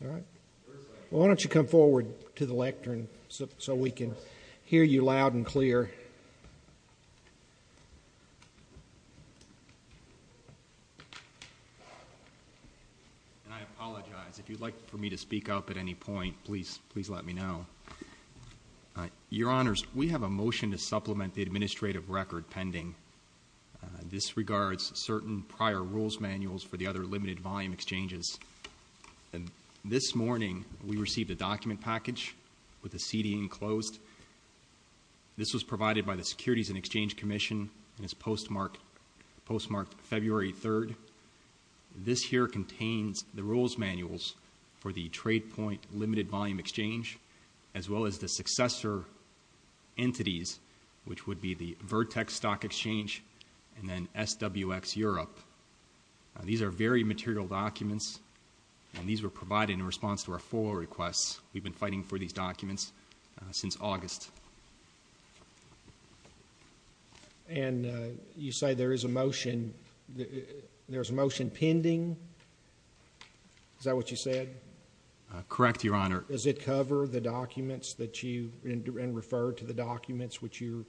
Well, why don't you come forward to the lectern so we can hear you loud and clear. And I apologize. If you'd like for me to speak up at any point, please let me know. Your Honors, we have a motion to supplement the administrative record pending. This regards certain prior rules manuals for the other limited volume exchanges. And this morning we received a document package with the CD enclosed. This was provided by the Securities and Exchange Commission and is postmarked February 3rd. This here contains the rules manuals for the trade point limited volume exchange as well as the successor entities which would be the Vertex Stock Exchange and then SWX Europe. These are very material documents and these were provided in response to our FOA requests. We've been fighting for these documents since August. And you say there is a motion there's a motion pending. Is that what you said? Correct, Your Honor. Does it cover the documents that you and refer to the documents which you're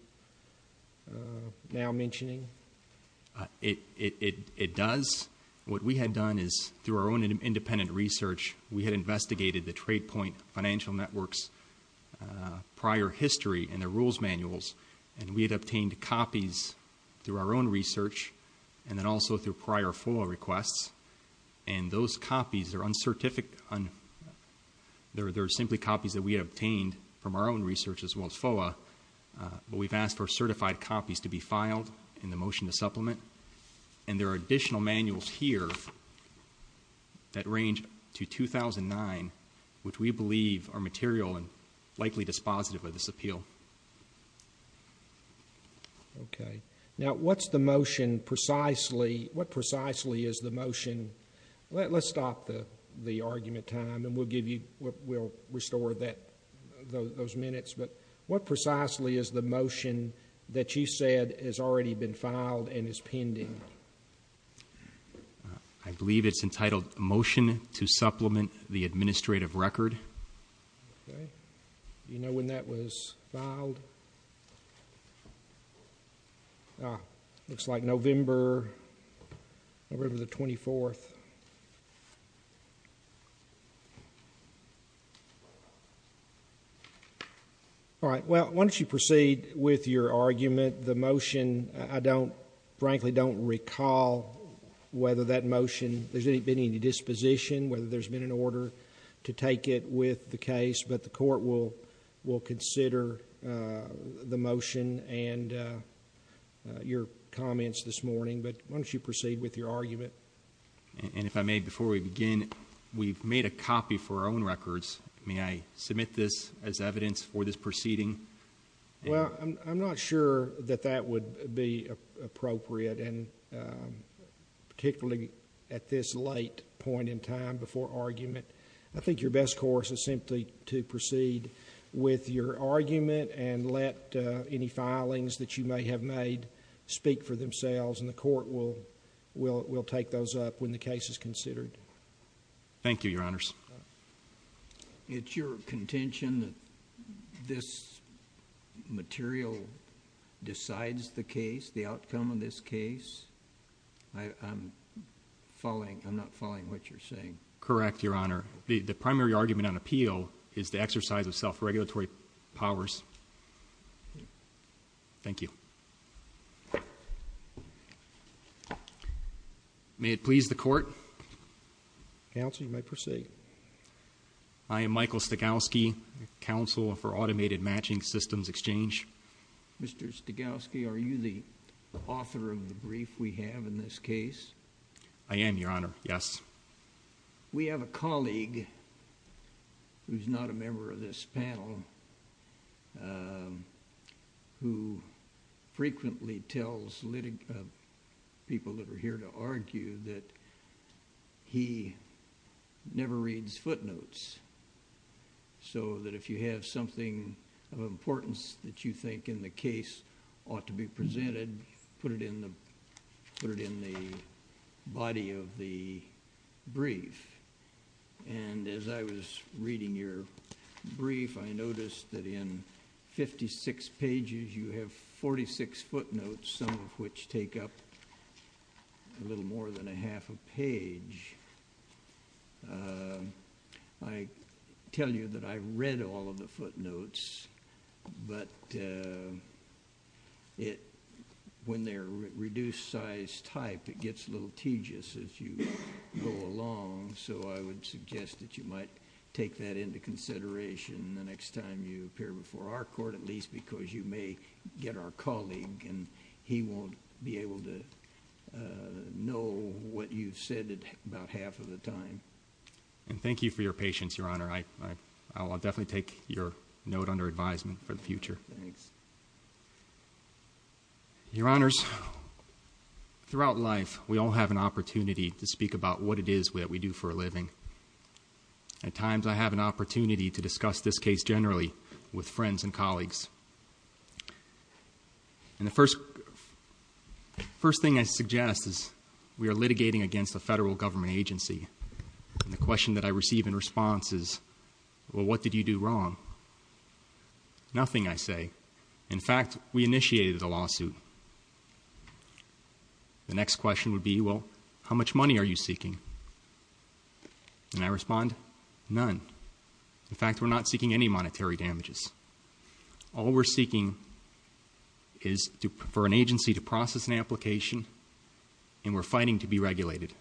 now mentioning? It does. What we had done is through our own independent research, we had investigated the trade point financial networks prior history and the rules manuals. And we had obtained copies through our own research and then also through prior FOA requests. And those copies are uncertified. There are simply copies that we obtained from our own research as well as FOA. But we've asked for certified copies to be filed in the motion to supplement. And there are additional manuals here that range to 2009 which we believe are material and likely dispositive of this appeal. Okay. Now what's the motion precisely? What precisely is the motion? Let's stop the argument time and we'll restore those minutes. But what precisely is the motion that you said has already been filed and is pending? I believe it's entitled Motion to Supplement the Administrative Record. Ah, looks like November, November the 24th. All right. Well, why don't you proceed with your argument. The motion, I don't, frankly, don't recall whether that motion, there's been any disposition, whether there's been an order to take it with the case. But the court will consider the motion and your comments this morning. But why don't you proceed with your argument. And if I may, before we begin, we've made a copy for our own records. May I submit this as evidence for this proceeding? Well, I'm not sure that that would be appropriate and particularly at this late point in time before argument. I think your best course is simply to proceed with your argument and let any filings that you may have made speak for themselves and the court will take those up when the case is considered. Thank you, Your Honors. It's your contention that this material decides the case, the outcome of this case? I'm following, I'm not following what you're saying. Correct, Your Honor. The primary argument on appeal is the exercise of self-regulatory powers. Thank you. May it please the court. Counsel, you may proceed. I am Michael Stegowski, Counsel for Automated Matching Systems Exchange. Mr. Stegowski, are you the author of the brief we have in this case? I am, Your Honor, yes. We have a colleague who's not a member of this panel who frequently tells people that are here to argue that he never reads footnotes so that if you have something of importance that you think in the case ought to be presented, put it in the body of the brief and as I was reading your brief, I noticed that in 56 pages, you have 46 footnotes, some of which take up a little more than a half a page. I tell you that I've read all of the footnotes but when they're reduced size type, it gets a little tedious as you go along so I would suggest that you might take that into consideration the next time you appear before our court at least because you may get our colleague and he won't be able to know what you've said about half of the time. And thank you for your patience, Your Honor. I'll definitely take your note under advisement for the future. Thanks. Your Honors, throughout life, we all have an opportunity to speak about what it is that we do for a living. At times, I have an opportunity to discuss this case generally with friends and the first thing I suggest is we are litigating against a federal government agency and the question that I receive in response is, well, what did you do wrong? Nothing, I say. In fact, we initiated a lawsuit. The next question would be, well, how much money are you seeking? And I respond, none. In fact, we're not seeking any monetary damages. All we're seeking is for an agency to process an application and we're fighting to be regulated.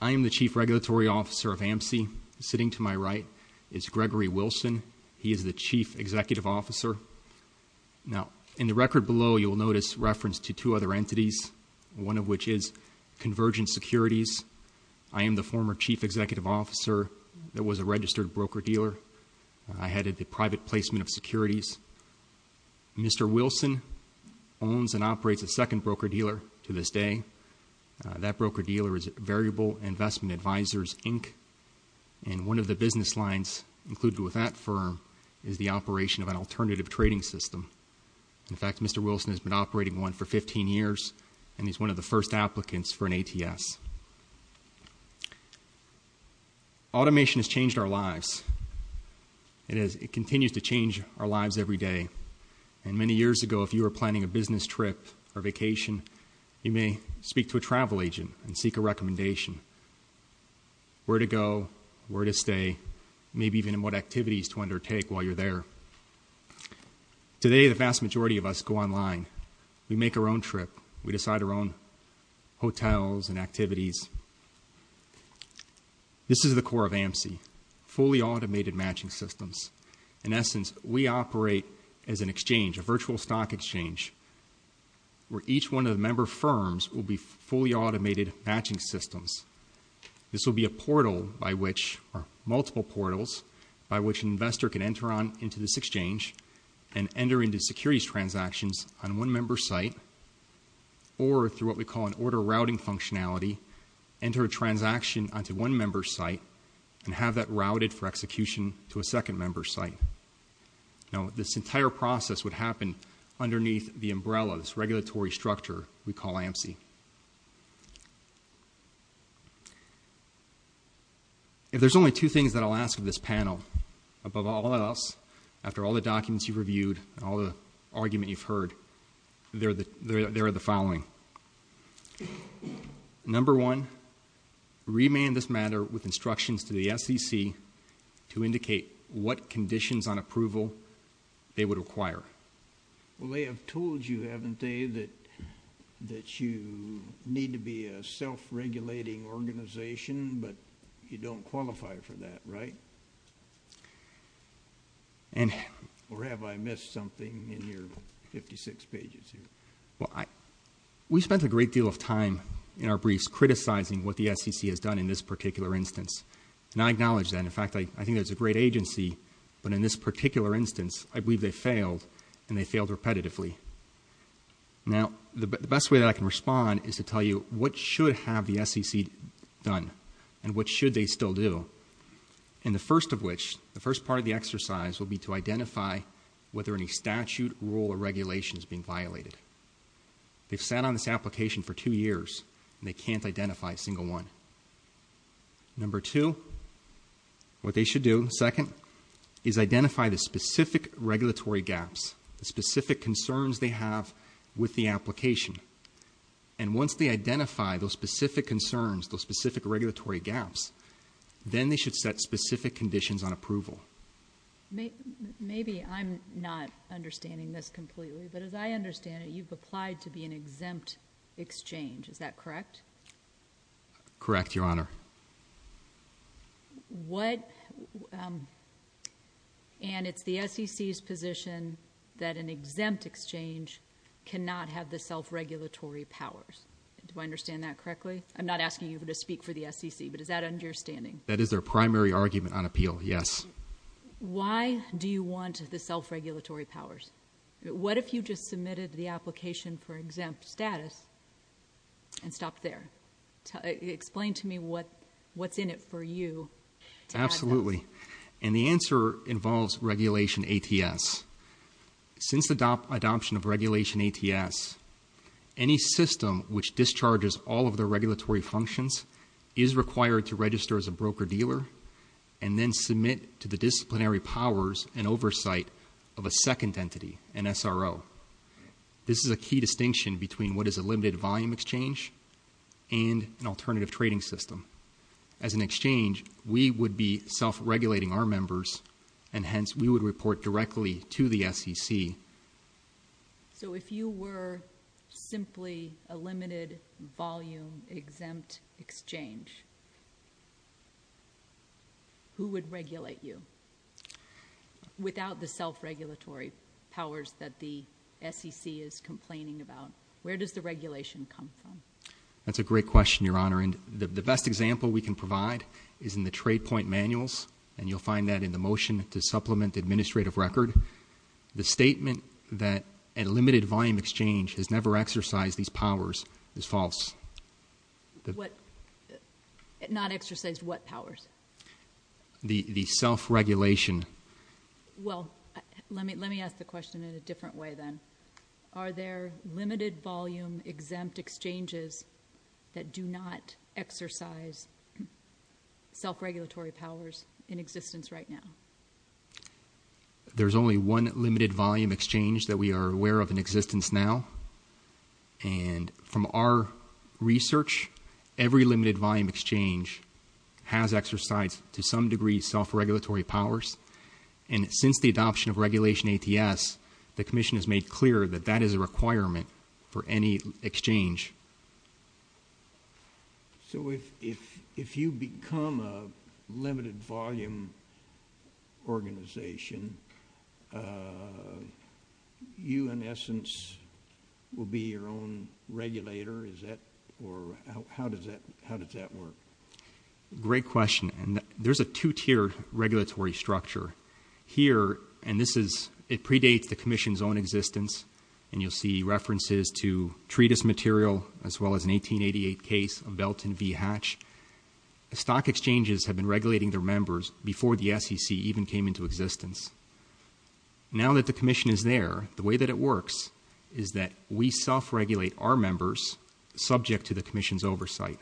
I am the Chief Regulatory Officer of AMSI. Sitting to my right is Gregory Wilson. He is the Chief Executive Officer. Now, in the record below, you will notice reference to two other entities, one of which is Convergent Securities. I am the former Chief Executive Officer that was a registered broker-dealer. I headed the private placement of securities. Mr. Wilson owns and operates a second broker-dealer to this day. That broker-dealer is Variable Investment Advisors, Inc., and one of the business lines included with that firm is the operation of an alternative trading system. In fact, Mr. Wilson has been operating one for 15 years and he's one of the first applicants for an alternative trading system. Automation has changed our lives. It continues to change our lives every day. And many years ago, if you were planning a business trip or vacation, you may speak to a travel agent and seek a recommendation, where to go, where to stay, maybe even what activities to undertake while you're there. Today, the vast majority of us go online. We make our own trip. We decide our own hotels and activities. This is the core of AMSI, Fully Automated Matching Systems. In essence, we operate as an exchange, a virtual stock exchange, where each one of the member firms will be fully automated matching systems. This will be a portal by which, or multiple portals, by which an investor can enter on into this exchange and enter into securities transactions on one member's site, or through what we call an order routing functionality, enter a transaction onto one member's site and have that routed for execution to a second member's site. Now, this entire process would happen underneath the umbrella, this regulatory structure we call AMSI. If there's only two things that I'll ask of this panel, above all else, after all the documents you've reviewed and all the argument you've heard, they're the following. Number one, remand this matter with instructions to the SEC to indicate what conditions on approval they would require. Well, they have told you, haven't they, that you need to be a self-regulating organization, but you don't qualify for that, right? Or have I missed something in your 56 pages here? Well, we spent a great deal of time in our briefs criticizing what the SEC has done in this particular instance, and I acknowledge that. In fact, I think there's a great agency, but in this particular instance, I believe they failed, and they failed repetitively. Now, the best way that I can respond is to tell you what should have the SEC done and what should they still do, and the first of which, the first part of the exercise, will be to identify whether any statute, rule, or regulation is being violated. They've sat on this application for two years, and they can't identify a single one. Number two, what they should do, second, is identify the specific regulatory gaps, the specific concerns they have with the application, and once they identify those specific concerns, those specific regulatory gaps, then they should set specific conditions on approval. Maybe I'm not understanding this completely, but as I understand it, you've applied to be an exempt exchange, is that correct? Correct, Your Honor. Correct. And it's the SEC's position that an exempt exchange cannot have the self-regulatory powers. Do I understand that correctly? I'm not asking you to speak for the SEC, but is that understanding? That is their primary argument on appeal, yes. Why do you want the self-regulatory powers? What if you just submitted the application for exempt status and stopped there? Explain to me what's in it for you. Absolutely. And the answer involves regulation ATS. Since the adoption of regulation ATS, any system which discharges all of the regulatory functions is required to register as a broker dealer and then submit to the disciplinary powers and oversight of a second entity, an SRO. This is key distinction between what is a limited volume exchange and an alternative trading system. As an exchange, we would be self-regulating our members, and hence we would report directly to the SEC. So if you were simply a limited volume exempt exchange, who would regulate you without the self-regulatory powers that the SEC is complaining about? Where does the regulation come from? That's a great question, Your Honor. And the best example we can provide is in the trade point manuals, and you'll find that in the motion to supplement the administrative record. The statement that a limited volume exchange has not exercised what powers? The self-regulation. Well, let me ask the question in a different way then. Are there limited volume exempt exchanges that do not exercise self-regulatory powers in existence right now? There's only one limited volume exchange that we are aware of in existence now. And from our research, every limited volume exchange has exercised to some degree self-regulatory powers. And since the adoption of regulation ATS, the commission has made clear that that is a requirement for any exchange. So if you become a limited volume organization, you, in essence, will be your own regulator? Is that, or how does that, how does that work? Great question. And there's a two-tier regulatory structure here. And this is, it predates the commission's own existence. And you'll see references to treatise material, as well as an 1888 case of Belton v. Hatch. Stock exchanges have been regulating their existence. Now that the commission is there, the way that it works is that we self-regulate our members subject to the commission's oversight.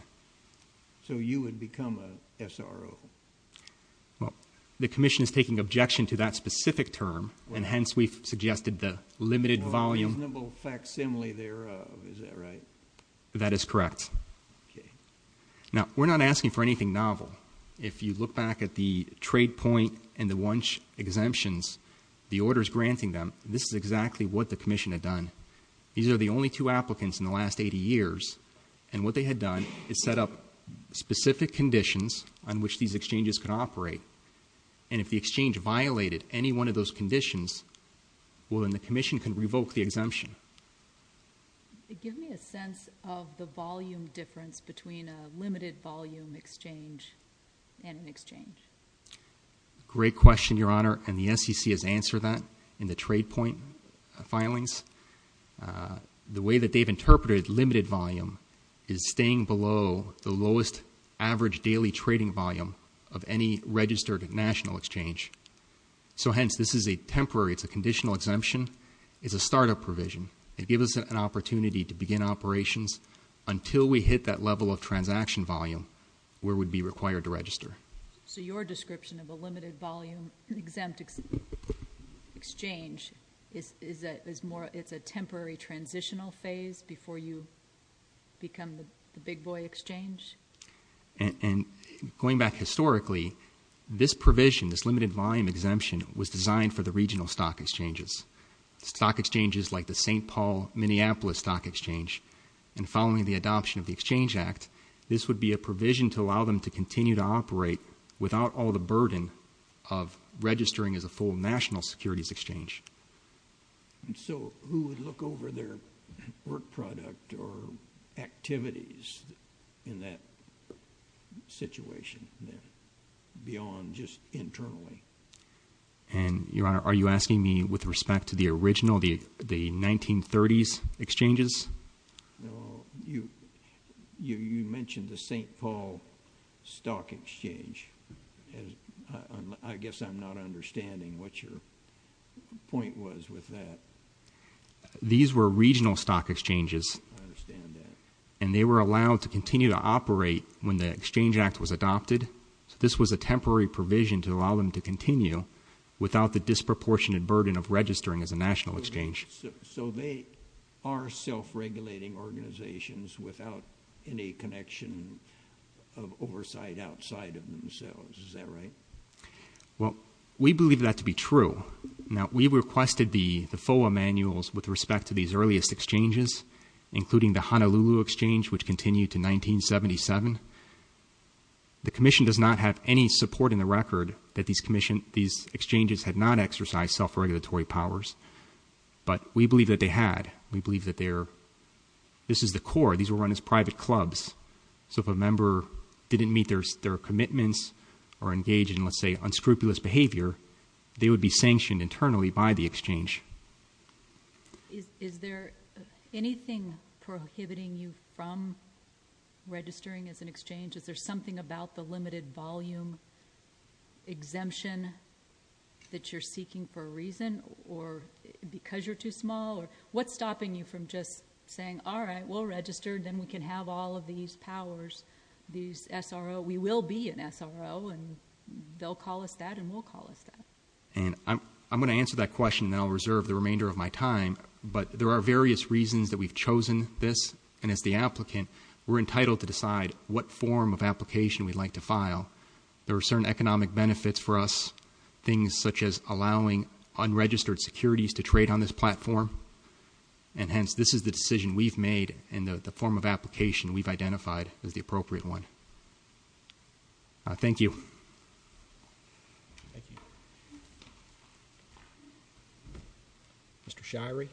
So you would become a SRO? Well, the commission is taking objection to that specific term, and hence we've suggested the limited volume. The reasonable facsimile thereof, is that right? That is correct. Okay. Now, we're not asking for anything novel. If you look back at the trade point and the lunch exemptions, the orders granting them, this is exactly what the commission had done. These are the only two applicants in the last 80 years. And what they had done is set up specific conditions on which these exchanges could operate. And if the exchange violated any one of those conditions, well then the commission can revoke the exemption. Give me a sense of the volume difference between a limited volume exchange and an exchange. Great question, Your Honor. And the SEC has answered that in the trade point filings. The way that they've interpreted limited volume is staying below the lowest average daily trading volume of any registered national exchange. So hence this is a temporary, it's a conditional exemption. It's a startup provision. It gives us an opportunity to begin operations until we hit that level of transaction volume where we would be required to register. So your description of a limited volume exempt exchange is that it's a temporary transitional phase before you become the big boy exchange? And going back historically, this provision, this limited volume exemption, was designed for the regional stock exchanges. Stock exchanges like the St. Paul, Minneapolis Stock Exchange. And following the adoption of the Exchange Act, this would be a provision to allow them to continue to operate without all the burden of registering as a full national securities exchange. And so who would look over their work product or activities in that situation, beyond just internally? And Your Honor, are you asking me with respect to the original, the 1930s exchanges? No. You mentioned the St. Paul Stock Exchange. I guess I'm not understanding what your point was with that. These were regional stock exchanges. I understand that. And they were allowed to continue to operate when the Exchange Act was adopted. So this was a temporary provision to allow them to continue without the disproportionate burden of registering as a national exchange. So they are self-regulating organizations without any connection of oversight outside of themselves. Is that right? Well, we believe that to be true. Now, we requested the FOA manuals with respect to these earliest exchanges, including the Honolulu Exchange, which continued to 1977. The Commission does not have any support in the record that these exchanges had not exercised self-regulatory powers. But we believe that they had. We believe that they're, this is the core. These were run as private clubs. So if a member didn't meet their commitments or engage in, let's say, unscrupulous behavior, they would be sanctioned internally by the Exchange. Is there anything prohibiting you from registering as an exchange? Is there about the limited volume exemption that you're seeking for a reason or because you're too small? Or what's stopping you from just saying, all right, we'll register. Then we can have all of these powers, these SRO. We will be an SRO. And they'll call us that. And we'll call us that. And I'm going to answer that question. And I'll reserve the remainder of my time. But there are various reasons that we've chosen this. And as the applicant, we're entitled to we'd like to file. There are certain economic benefits for us, things such as allowing unregistered securities to trade on this platform. And hence, this is the decision we've made in the form of application we've identified as the appropriate one. Thank you. Thank you. Mr. Shirey.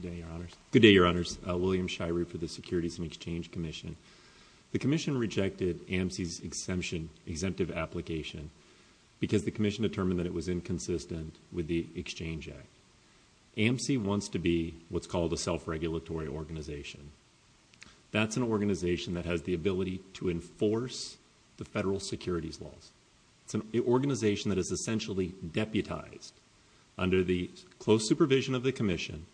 Good day, Your Honors. Good day, Your Honors. William Shirey for the Securities and Exchange Commission. The Commission rejected AMC's exemption, exemptive application, because the Commission determined that it was inconsistent with the Exchange Act. AMC wants to be what's called a self-regulatory organization. That's an organization that has the ability to enforce the federal securities laws. It's an organization that is essentially deputized under the close supervision of the Commission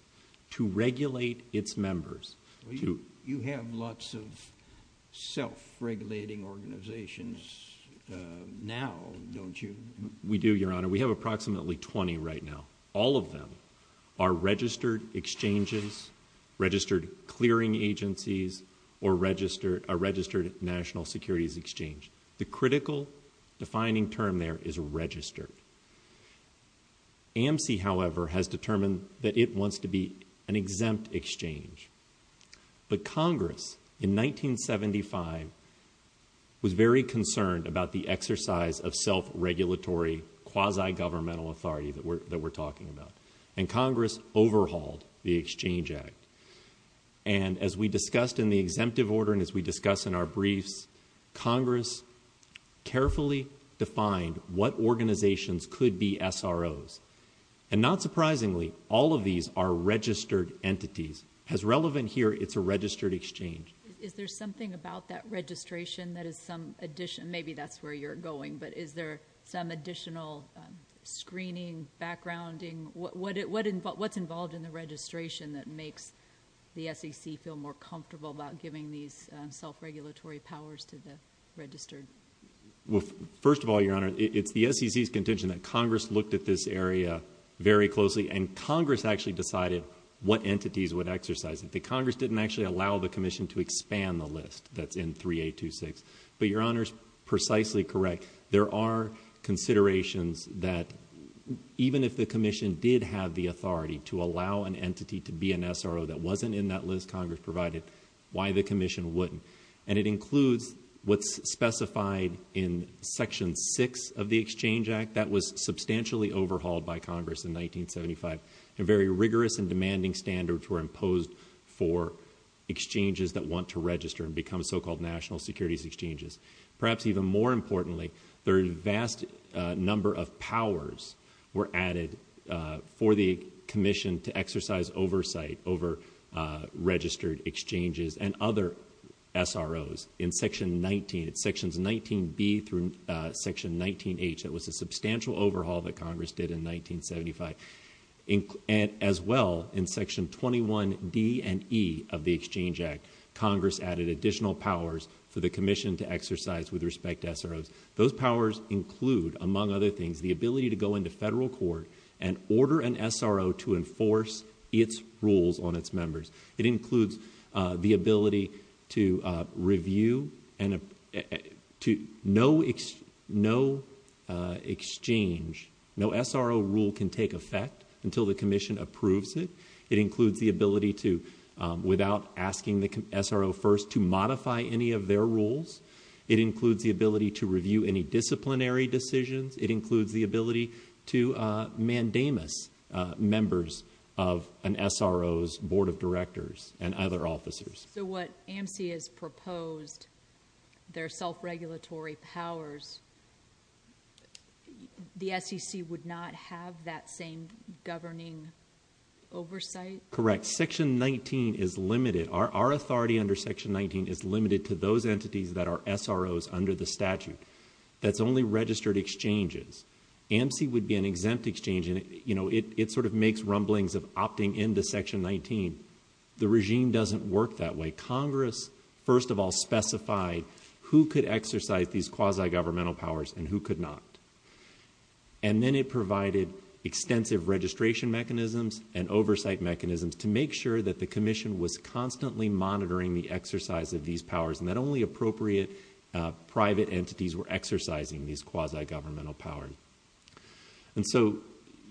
to regulate its members. You have lots of self-regulating organizations now, don't you? We do, Your Honor. We have approximately 20 right now. All of them are registered exchanges, registered clearing agencies, or registered national securities exchange. The critical defining term there is registered. AMC, however, has determined that it wants to be an exempt exchange. But Congress in 1975 was very concerned about the exercise of self-regulatory quasi-governmental authority that we're talking about. And Congress overhauled the Exchange Act. And as we discussed in the exemptive order and as we discuss in our briefs, Congress carefully defined what organizations could be SROs. And not surprisingly, all of these are registered entities. As relevant here, it's a registered exchange. Is there something about that registration that is some addition, maybe that's where you're going, but is there some additional screening, backgrounding? What's involved in the registration that makes the SEC feel more comfortable about giving these self-regulatory powers to the registered? Well, first of all, Your Honor, it's the SEC's contention that Congress looked at this area very closely. And Congress actually decided what entities would exercise it. The Congress didn't actually allow the Commission to expand the list that's in 3.826. But Your Honor's precisely correct. There are considerations that even if the Commission did have the authority to allow an entity to be an SRO that wasn't in that list Congress provided, why the Commission wouldn't? And it includes what's specified in Section 6 of the Exchange Act that was substantially overhauled by Congress in 1975. Very rigorous and demanding standards were imposed for exchanges that want to register and become so-called national securities exchanges. Perhaps even more importantly, the vast number of powers were added for the Commission to exercise oversight over registered exchanges and other SROs. In Section 19, it's Sections 19B through Section 19H, it was a substantial overhaul that Congress did in 1975. As well, in Section 21D and E of the Exchange Act, Congress added additional powers for the Commission to exercise with respect to SROs. Those powers include, among other things, the ability to go into federal court and order an exchange. No SRO rule can take effect until the Commission approves it. It includes the ability to, without asking the SRO first, to modify any of their rules. It includes the ability to review any disciplinary decisions. It includes the ability to mandamus members of an SRO's board of directors and other officers. So what AMC has proposed, their self-regulatory powers, the SEC would not have that same governing oversight? Correct. Section 19 is limited. Our authority under Section 19 is limited to those entities that are SROs under the statute. That's only registered exchanges. AMC would be an exempt exchange. It sort of makes rumblings of opting into Section 19. The regime doesn't work that way. Congress, first of all, specified who could exercise these quasi-governmental powers and who could not. And then it provided extensive registration mechanisms and oversight mechanisms to make sure that the Commission was constantly monitoring the exercise of these powers, and that only appropriate private entities were exercising these quasi-governmental powers. And so,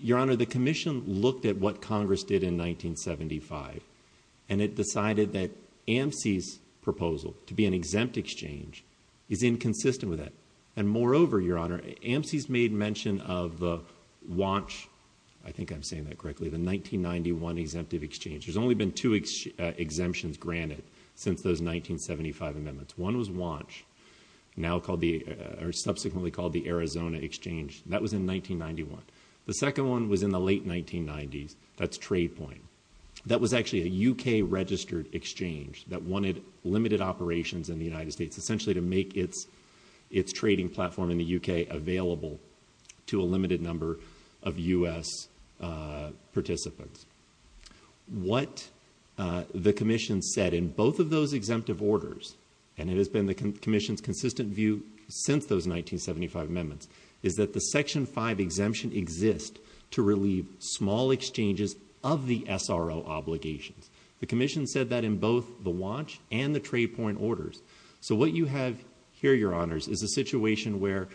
Your Honor, the Commission looked at what Congress did in 1975, and it decided that AMC's made mention of WANCH, I think I'm saying that correctly, the 1991 Exemptive Exchange. There's only been two exemptions granted since those 1975 amendments. One was WANCH, subsequently called the Arizona Exchange. That was in 1991. The second one was in the late 1990s. That's TradePoint. That was actually a UK-registered exchange that wanted limited operations in the United States, essentially to make its trading platform in the UK available to a limited number of U.S. participants. What the Commission said in both of those exemptive orders, and it has been the Commission's consistent view since those 1975 amendments, is that the Section 5 exemption exists to relieve small exchanges of the SRO obligations. The Commission said that in both the WANCH and the TradePoint orders. So what you have here, Your Honors, is a situation where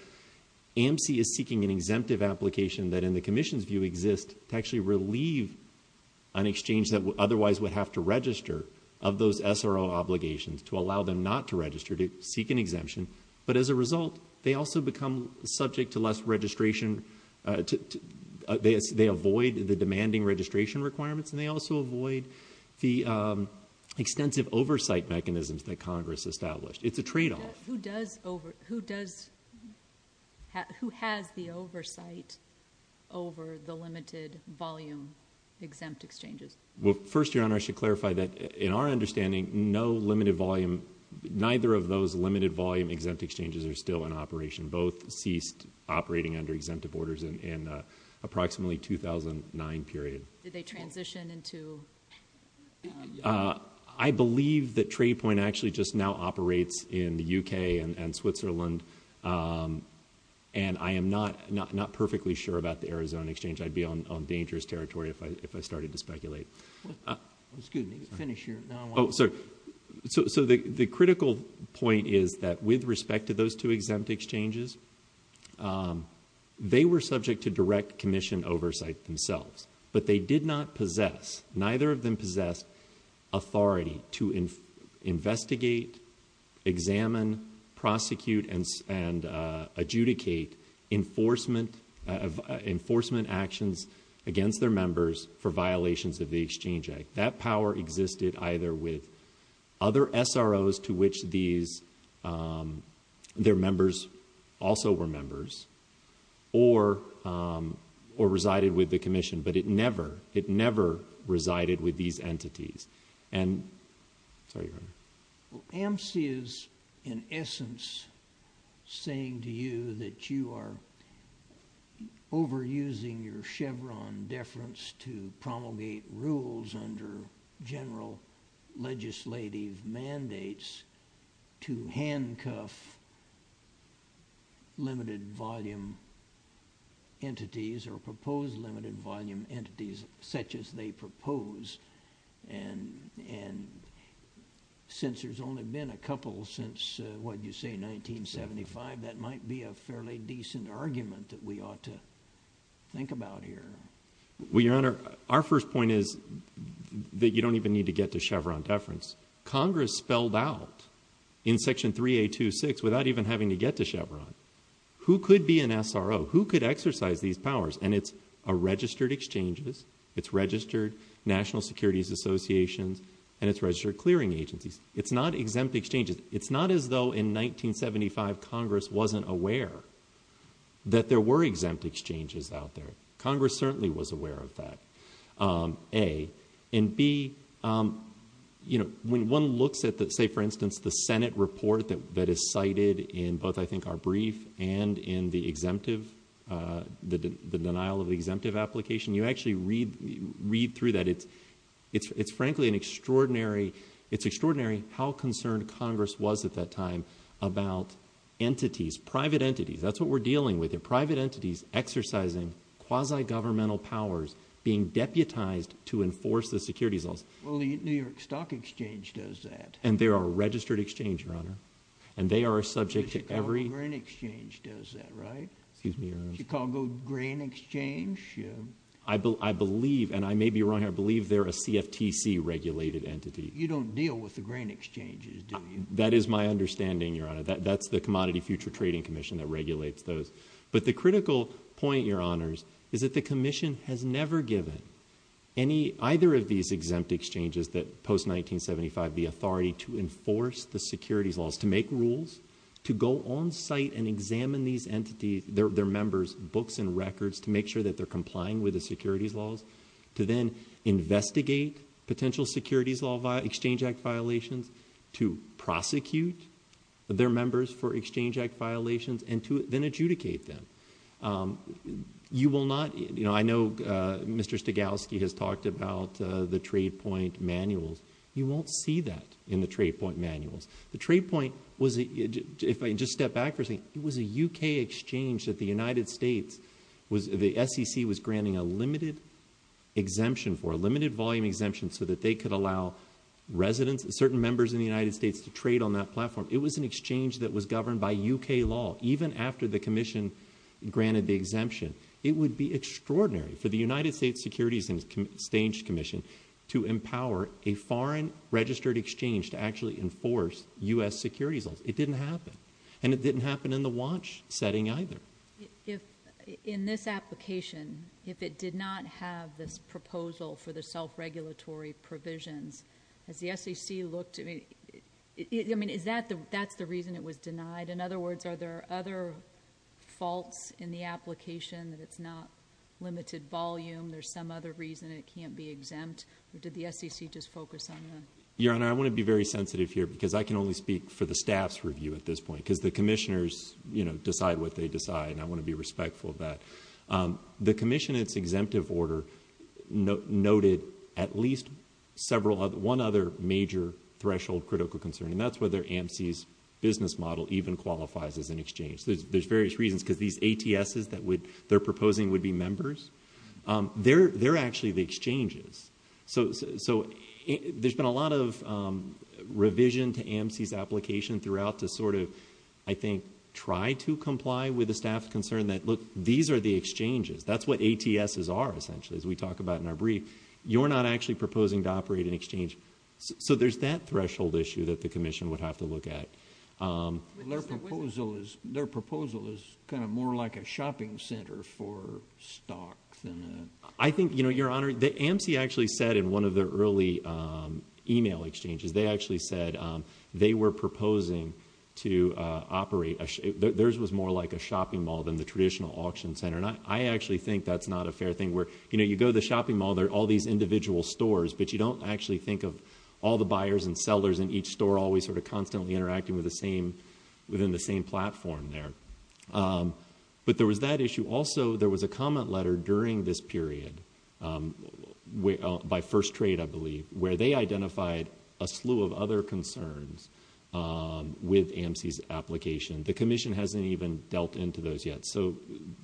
AMC is seeking an exemptive application that in the Commission's view exists to actually relieve an exchange that otherwise would have to register of those SRO obligations to allow them not to register, to seek an exemption. But as a result, they also become subject to less registration. They avoid the demanding registration requirements, and they also avoid the extensive oversight mechanisms that Congress established. It's a tradeoff. Who has the oversight over the limited volume exempt exchanges? Well, first, Your Honor, I should clarify that in our understanding, no limited volume, neither of those limited volume exempt exchanges are still in operation. Both ceased operating under exemptive orders in approximately 2009 period. Did they transition into? I believe that TradePoint actually just now operates in the U.K. and Switzerland, and I am not perfectly sure about the Arizona exchange. I'd be on dangerous territory if I started to speculate. So the critical point is that with respect to those two exempt exchanges, they were subject to direct Commission oversight themselves, but they did not possess, neither of them possessed, authority to investigate, examine, prosecute, and adjudicate enforcement actions against their members for violations of the Exchange Act. That power existed either with other SROs to which these, their members also were members, or resided with the Commission, but it never, it never resided with these entities. AMC is, in essence, saying to you that you are overusing your Chevron deference to promulgate rules under general legislative mandates to handcuff limited volume entities or propose limited volume entities such as they propose, and since there's only been a couple since, what'd you say, 1975, that might be a fairly decent argument that we ought to think about here. Well, Your Honor, our first point is that you don't even need to get to Chevron deference. Congress spelled out in Section 3A26, without even having to get to Chevron, who could be an SRO? Who could exercise these powers? And it's a registered exchanges, it's registered national securities associations, and it's registered clearing agencies. It's not exempt exchanges. It's not as though in 1975 Congress wasn't aware that there were exempt exchanges out there. Congress certainly was aware of that, A. And B, you know, when one looks at the, say, for instance, the Senate report that is cited in both, I think, our brief and in the exemptive, the denial of the exemptive application, you actually read through that. It's frankly an extraordinary, it's extraordinary how concerned Congress was at that time about entities, private entities, that's what we're dealing with here, private entities exercising quasi-governmental powers, being deputized to enforce the securities laws. Well, the New York Stock Exchange does that. And they are a registered exchange, Your Honor. And they are a subject to every- The Chicago Grain Exchange does that, right? Excuse me, Your Honor. Chicago Grain Exchange? I believe, and I may be wrong here, I believe they're a CFTC regulated entity. You don't deal with the grain exchanges, do you? That is my understanding, Your Honor. That's the Commodity Future Trading Commission that regulates those. But the critical point, Your Honors, is that the Commission has never given any, either of these exempt exchanges that post-1975, the authority to enforce the securities laws, to make rules, to go on site and examine these entities, their members, books and records, to make sure that they're complying with the securities laws, to then investigate potential Exchange Act violations, to prosecute their members for Exchange Act violations, and to then adjudicate them. You will not, you know, I know Mr. Stogalski has talked about the trade point manuals. You won't see that in the trade point manuals. The trade point was, if I just step back for a second, it was a UK exchange that the United States was, the SEC was granting a limited exemption for, a limited volume exemption, so that they could allow residents, certain members in the United States to trade on that platform. It was an exchange that was governed by UK law, even after the Commission granted the exemption. It would be extraordinary for the United States Securities and Exchange Commission to empower a foreign registered exchange to actually enforce U.S. securities laws. It didn't happen. And it didn't happen in the watch setting either. If, in this application, if it did not have this proposal for the self-regulatory provisions, has the SEC looked, I mean, is that the, that's the reason it was denied? In other words, are there other faults in the application that it's not limited volume? There's some other reason it can't be exempt? Or did the SEC just focus on the... Your Honor, I want to be very sensitive here, because I can only speak for the staff's review at this point, because the commissioners, you know, decide what they decide, and I want to be respectful of that. The commission in its exemptive order noted at least several other, one other major threshold critical concern, and that's whether AMC's business model even qualifies as an exchange. There's various reasons, because these ATSs that would, they're proposing would be members. They're, they're actually the exchanges. So, so there's been a lot of revision to AMC's route to sort of, I think, try to comply with the staff's concern that, look, these are the exchanges. That's what ATSs are, essentially, as we talk about in our brief. You're not actually proposing to operate an exchange. So, so there's that threshold issue that the commission would have to look at. Their proposal is, their proposal is kind of more like a shopping center for stock than a... I think, you know, Your Honor, the AMC actually said in one of their early email exchanges, they actually said they were proposing to operate a... Theirs was more like a shopping mall than the traditional auction center, and I actually think that's not a fair thing where, you know, you go to the shopping mall, there are all these individual stores, but you don't actually think of all the buyers and sellers in each store always sort of constantly interacting with the same, within the same platform there. But there was that issue. Also, there was a comment letter during this period by First Trade, I believe, where they identified a slew of other concerns with AMC's application. The commission hasn't even dealt into those yet. So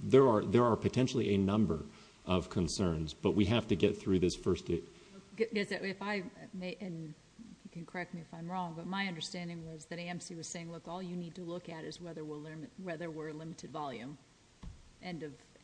there are, there are potentially a number of concerns, but we have to get through this first... If I may, and you can correct me if I'm wrong, but my understanding was that AMC was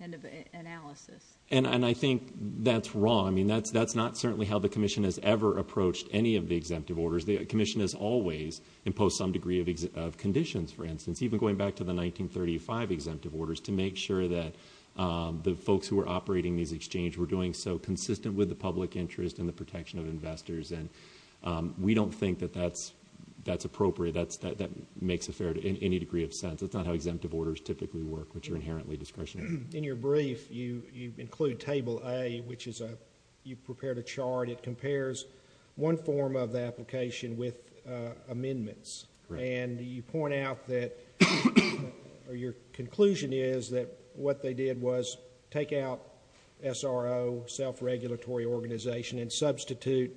end of analysis. And I think that's wrong. I mean, that's not certainly how the commission has ever approached any of the exemptive orders. The commission has always imposed some degree of conditions, for instance, even going back to the 1935 exemptive orders, to make sure that the folks who are operating these exchanges were doing so consistent with the public interest and the protection of investors. And we don't think that that's appropriate. That makes any degree of sense. That's not how exemptive orders typically work, which are inherently discretionary. In your brief, you include Table A, which is a, you've prepared a chart. It compares one form of the application with amendments. And you point out that, or your conclusion is that what they did was take out SRO, self-regulatory organization, and substitute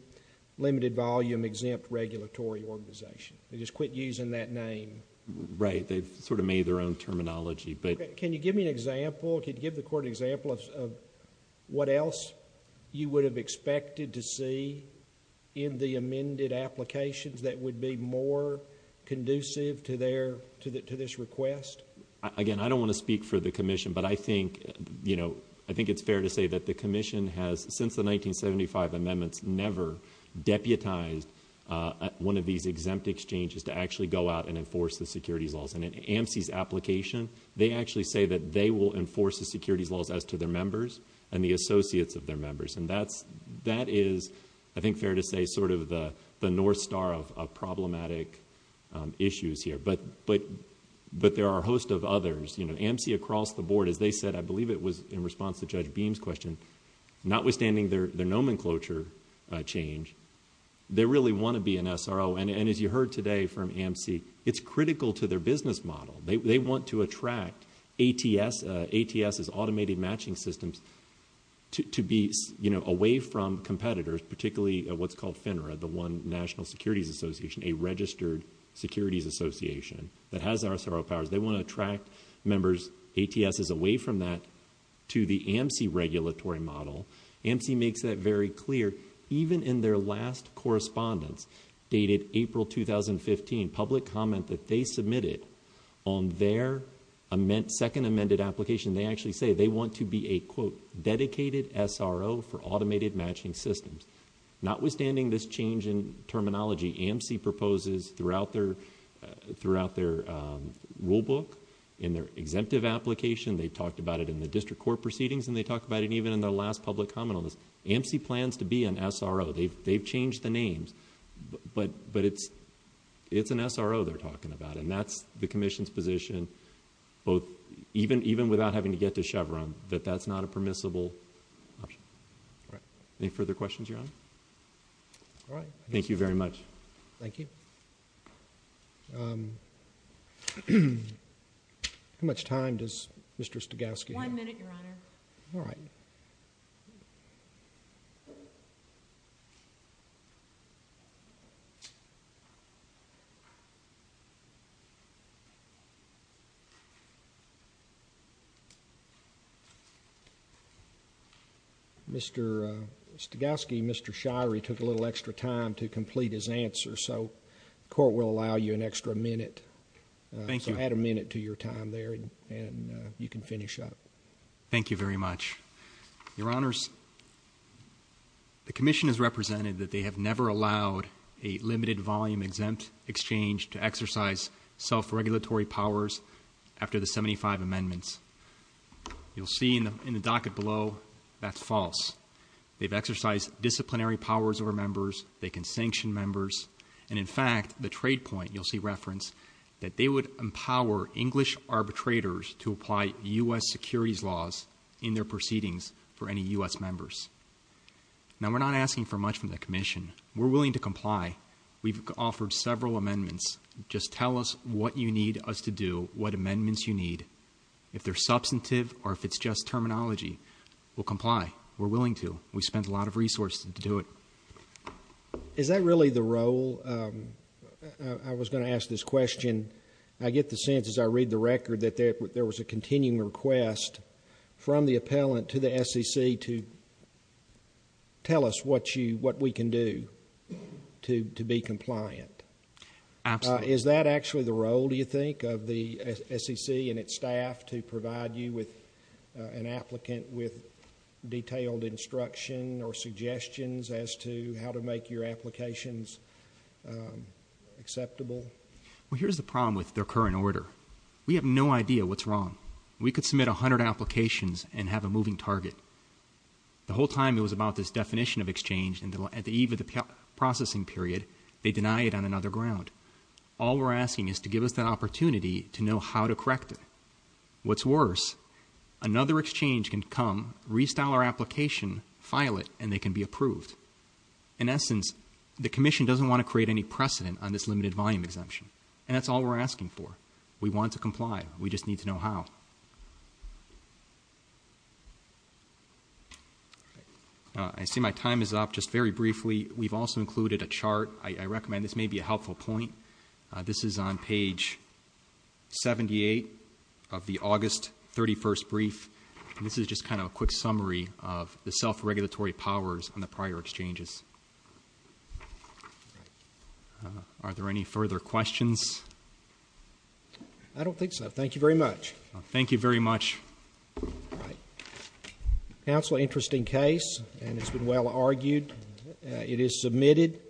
limited volume exempt regulatory organization. They just quit using that name. Right. They've sort of made their own terminology, but... Can you give me an example? Can you give the court an example of what else you would have expected to see in the amended applications that would be more conducive to this request? Again, I don't want to speak for the commission, but I think it's fair to say that the commission has, since the 1975 amendments, never deputized one of these exempt exchanges to actually go out and enforce the securities laws. And in AMC's application, they actually say that they will enforce the securities laws as to their members and the associates of their members. And that is, I think, fair to say, sort of the North Star of problematic issues here. But there are a host of others. AMC across the board, as they said, I believe it was in response to Judge Beam's question, notwithstanding their nomenclature change, they really want to be an SRO. And as you heard today from AMC, it's critical to their business model. They want to attract ATS's automated matching systems to be away from competitors, particularly what's called FINRA, the one National Securities Association, a registered securities association that has their SRO powers. They want to attract members, ATS's, away from that to the AMC regulatory model. AMC makes that very clear, even in their last correspondence, dated April 2015, public comment that they submitted on their second amended application, they actually say they want to be a, quote, dedicated SRO for automated matching systems. Notwithstanding this change in terminology, AMC proposes throughout their rulebook, in their exemptive application, they talked about it in the district court proceedings, and they talked about it even in their last public comment on this. AMC plans to be an SRO. They've changed the names, but it's an SRO they're talking about, and that's the commission's position, both, even without having to get to Chevron, that that's not a permissible option. Any further questions, Your Honor? All right. Thank you very much. Thank you. How much time does Mr. Stogaski have? One minute, Your Honor. All right. Mr. Stogaski, Mr. Shirey took a little extra time to complete his answer, so the court will allow you an extra minute. Thank you. So add a minute to your time there, and you can finish up. Thank you very much. Your Honors, the commission has represented that they have never allowed a limited volume exempt exchange to exercise self-regulatory powers after the 75 amendments. You'll see in the docket below, that's false. They've exercised disciplinary powers over members. They can sanction members, and in fact, the trade point, you'll see reference, that they would empower English arbitrators to apply U.S. securities laws in their proceedings for any U.S. members. Now, we're not asking for much from the commission. We're willing to comply. We've offered several amendments. Just tell us what you need us to do, what amendments you need. If they're substantive, or if it's just terminology, we'll comply. We're willing to. We spent a lot of resources to do it. Is that really the role? I was going to ask this question. I get the sense, as I read the record, that there was a continuing request from the appellant to the SEC to tell us what we can do to be compliant. Absolutely. Is that actually the role, do you think, of the SEC and its staff to provide you with an applicant with detailed instruction or suggestions as to how to make your applications acceptable? Well, here's the problem with their current order. We have no idea what's wrong. We could submit 100 applications and have a moving target. The whole time it was about this definition of exchange, and at the eve of the processing period, they deny it on another ground. All we're asking is to give us that opportunity to know how to correct it. What's worse, another exchange can come, restyle our application, file it, and they can be approved. In essence, the Commission doesn't want to create any precedent on this limited volume exemption, and that's all we're asking for. We want to comply. We just need to know how. I see my time is up. Just very briefly, we've also included a chart. I recommend this may be a helpful point. This is on page 78 of the August 31st brief, and this is just kind of a quick summary of the self-regulatory powers on the prior exchanges. Are there any further questions? I don't think so. Thank you very much. Thank you very much. Counsel, interesting case, and it's been well argued. It is submitted.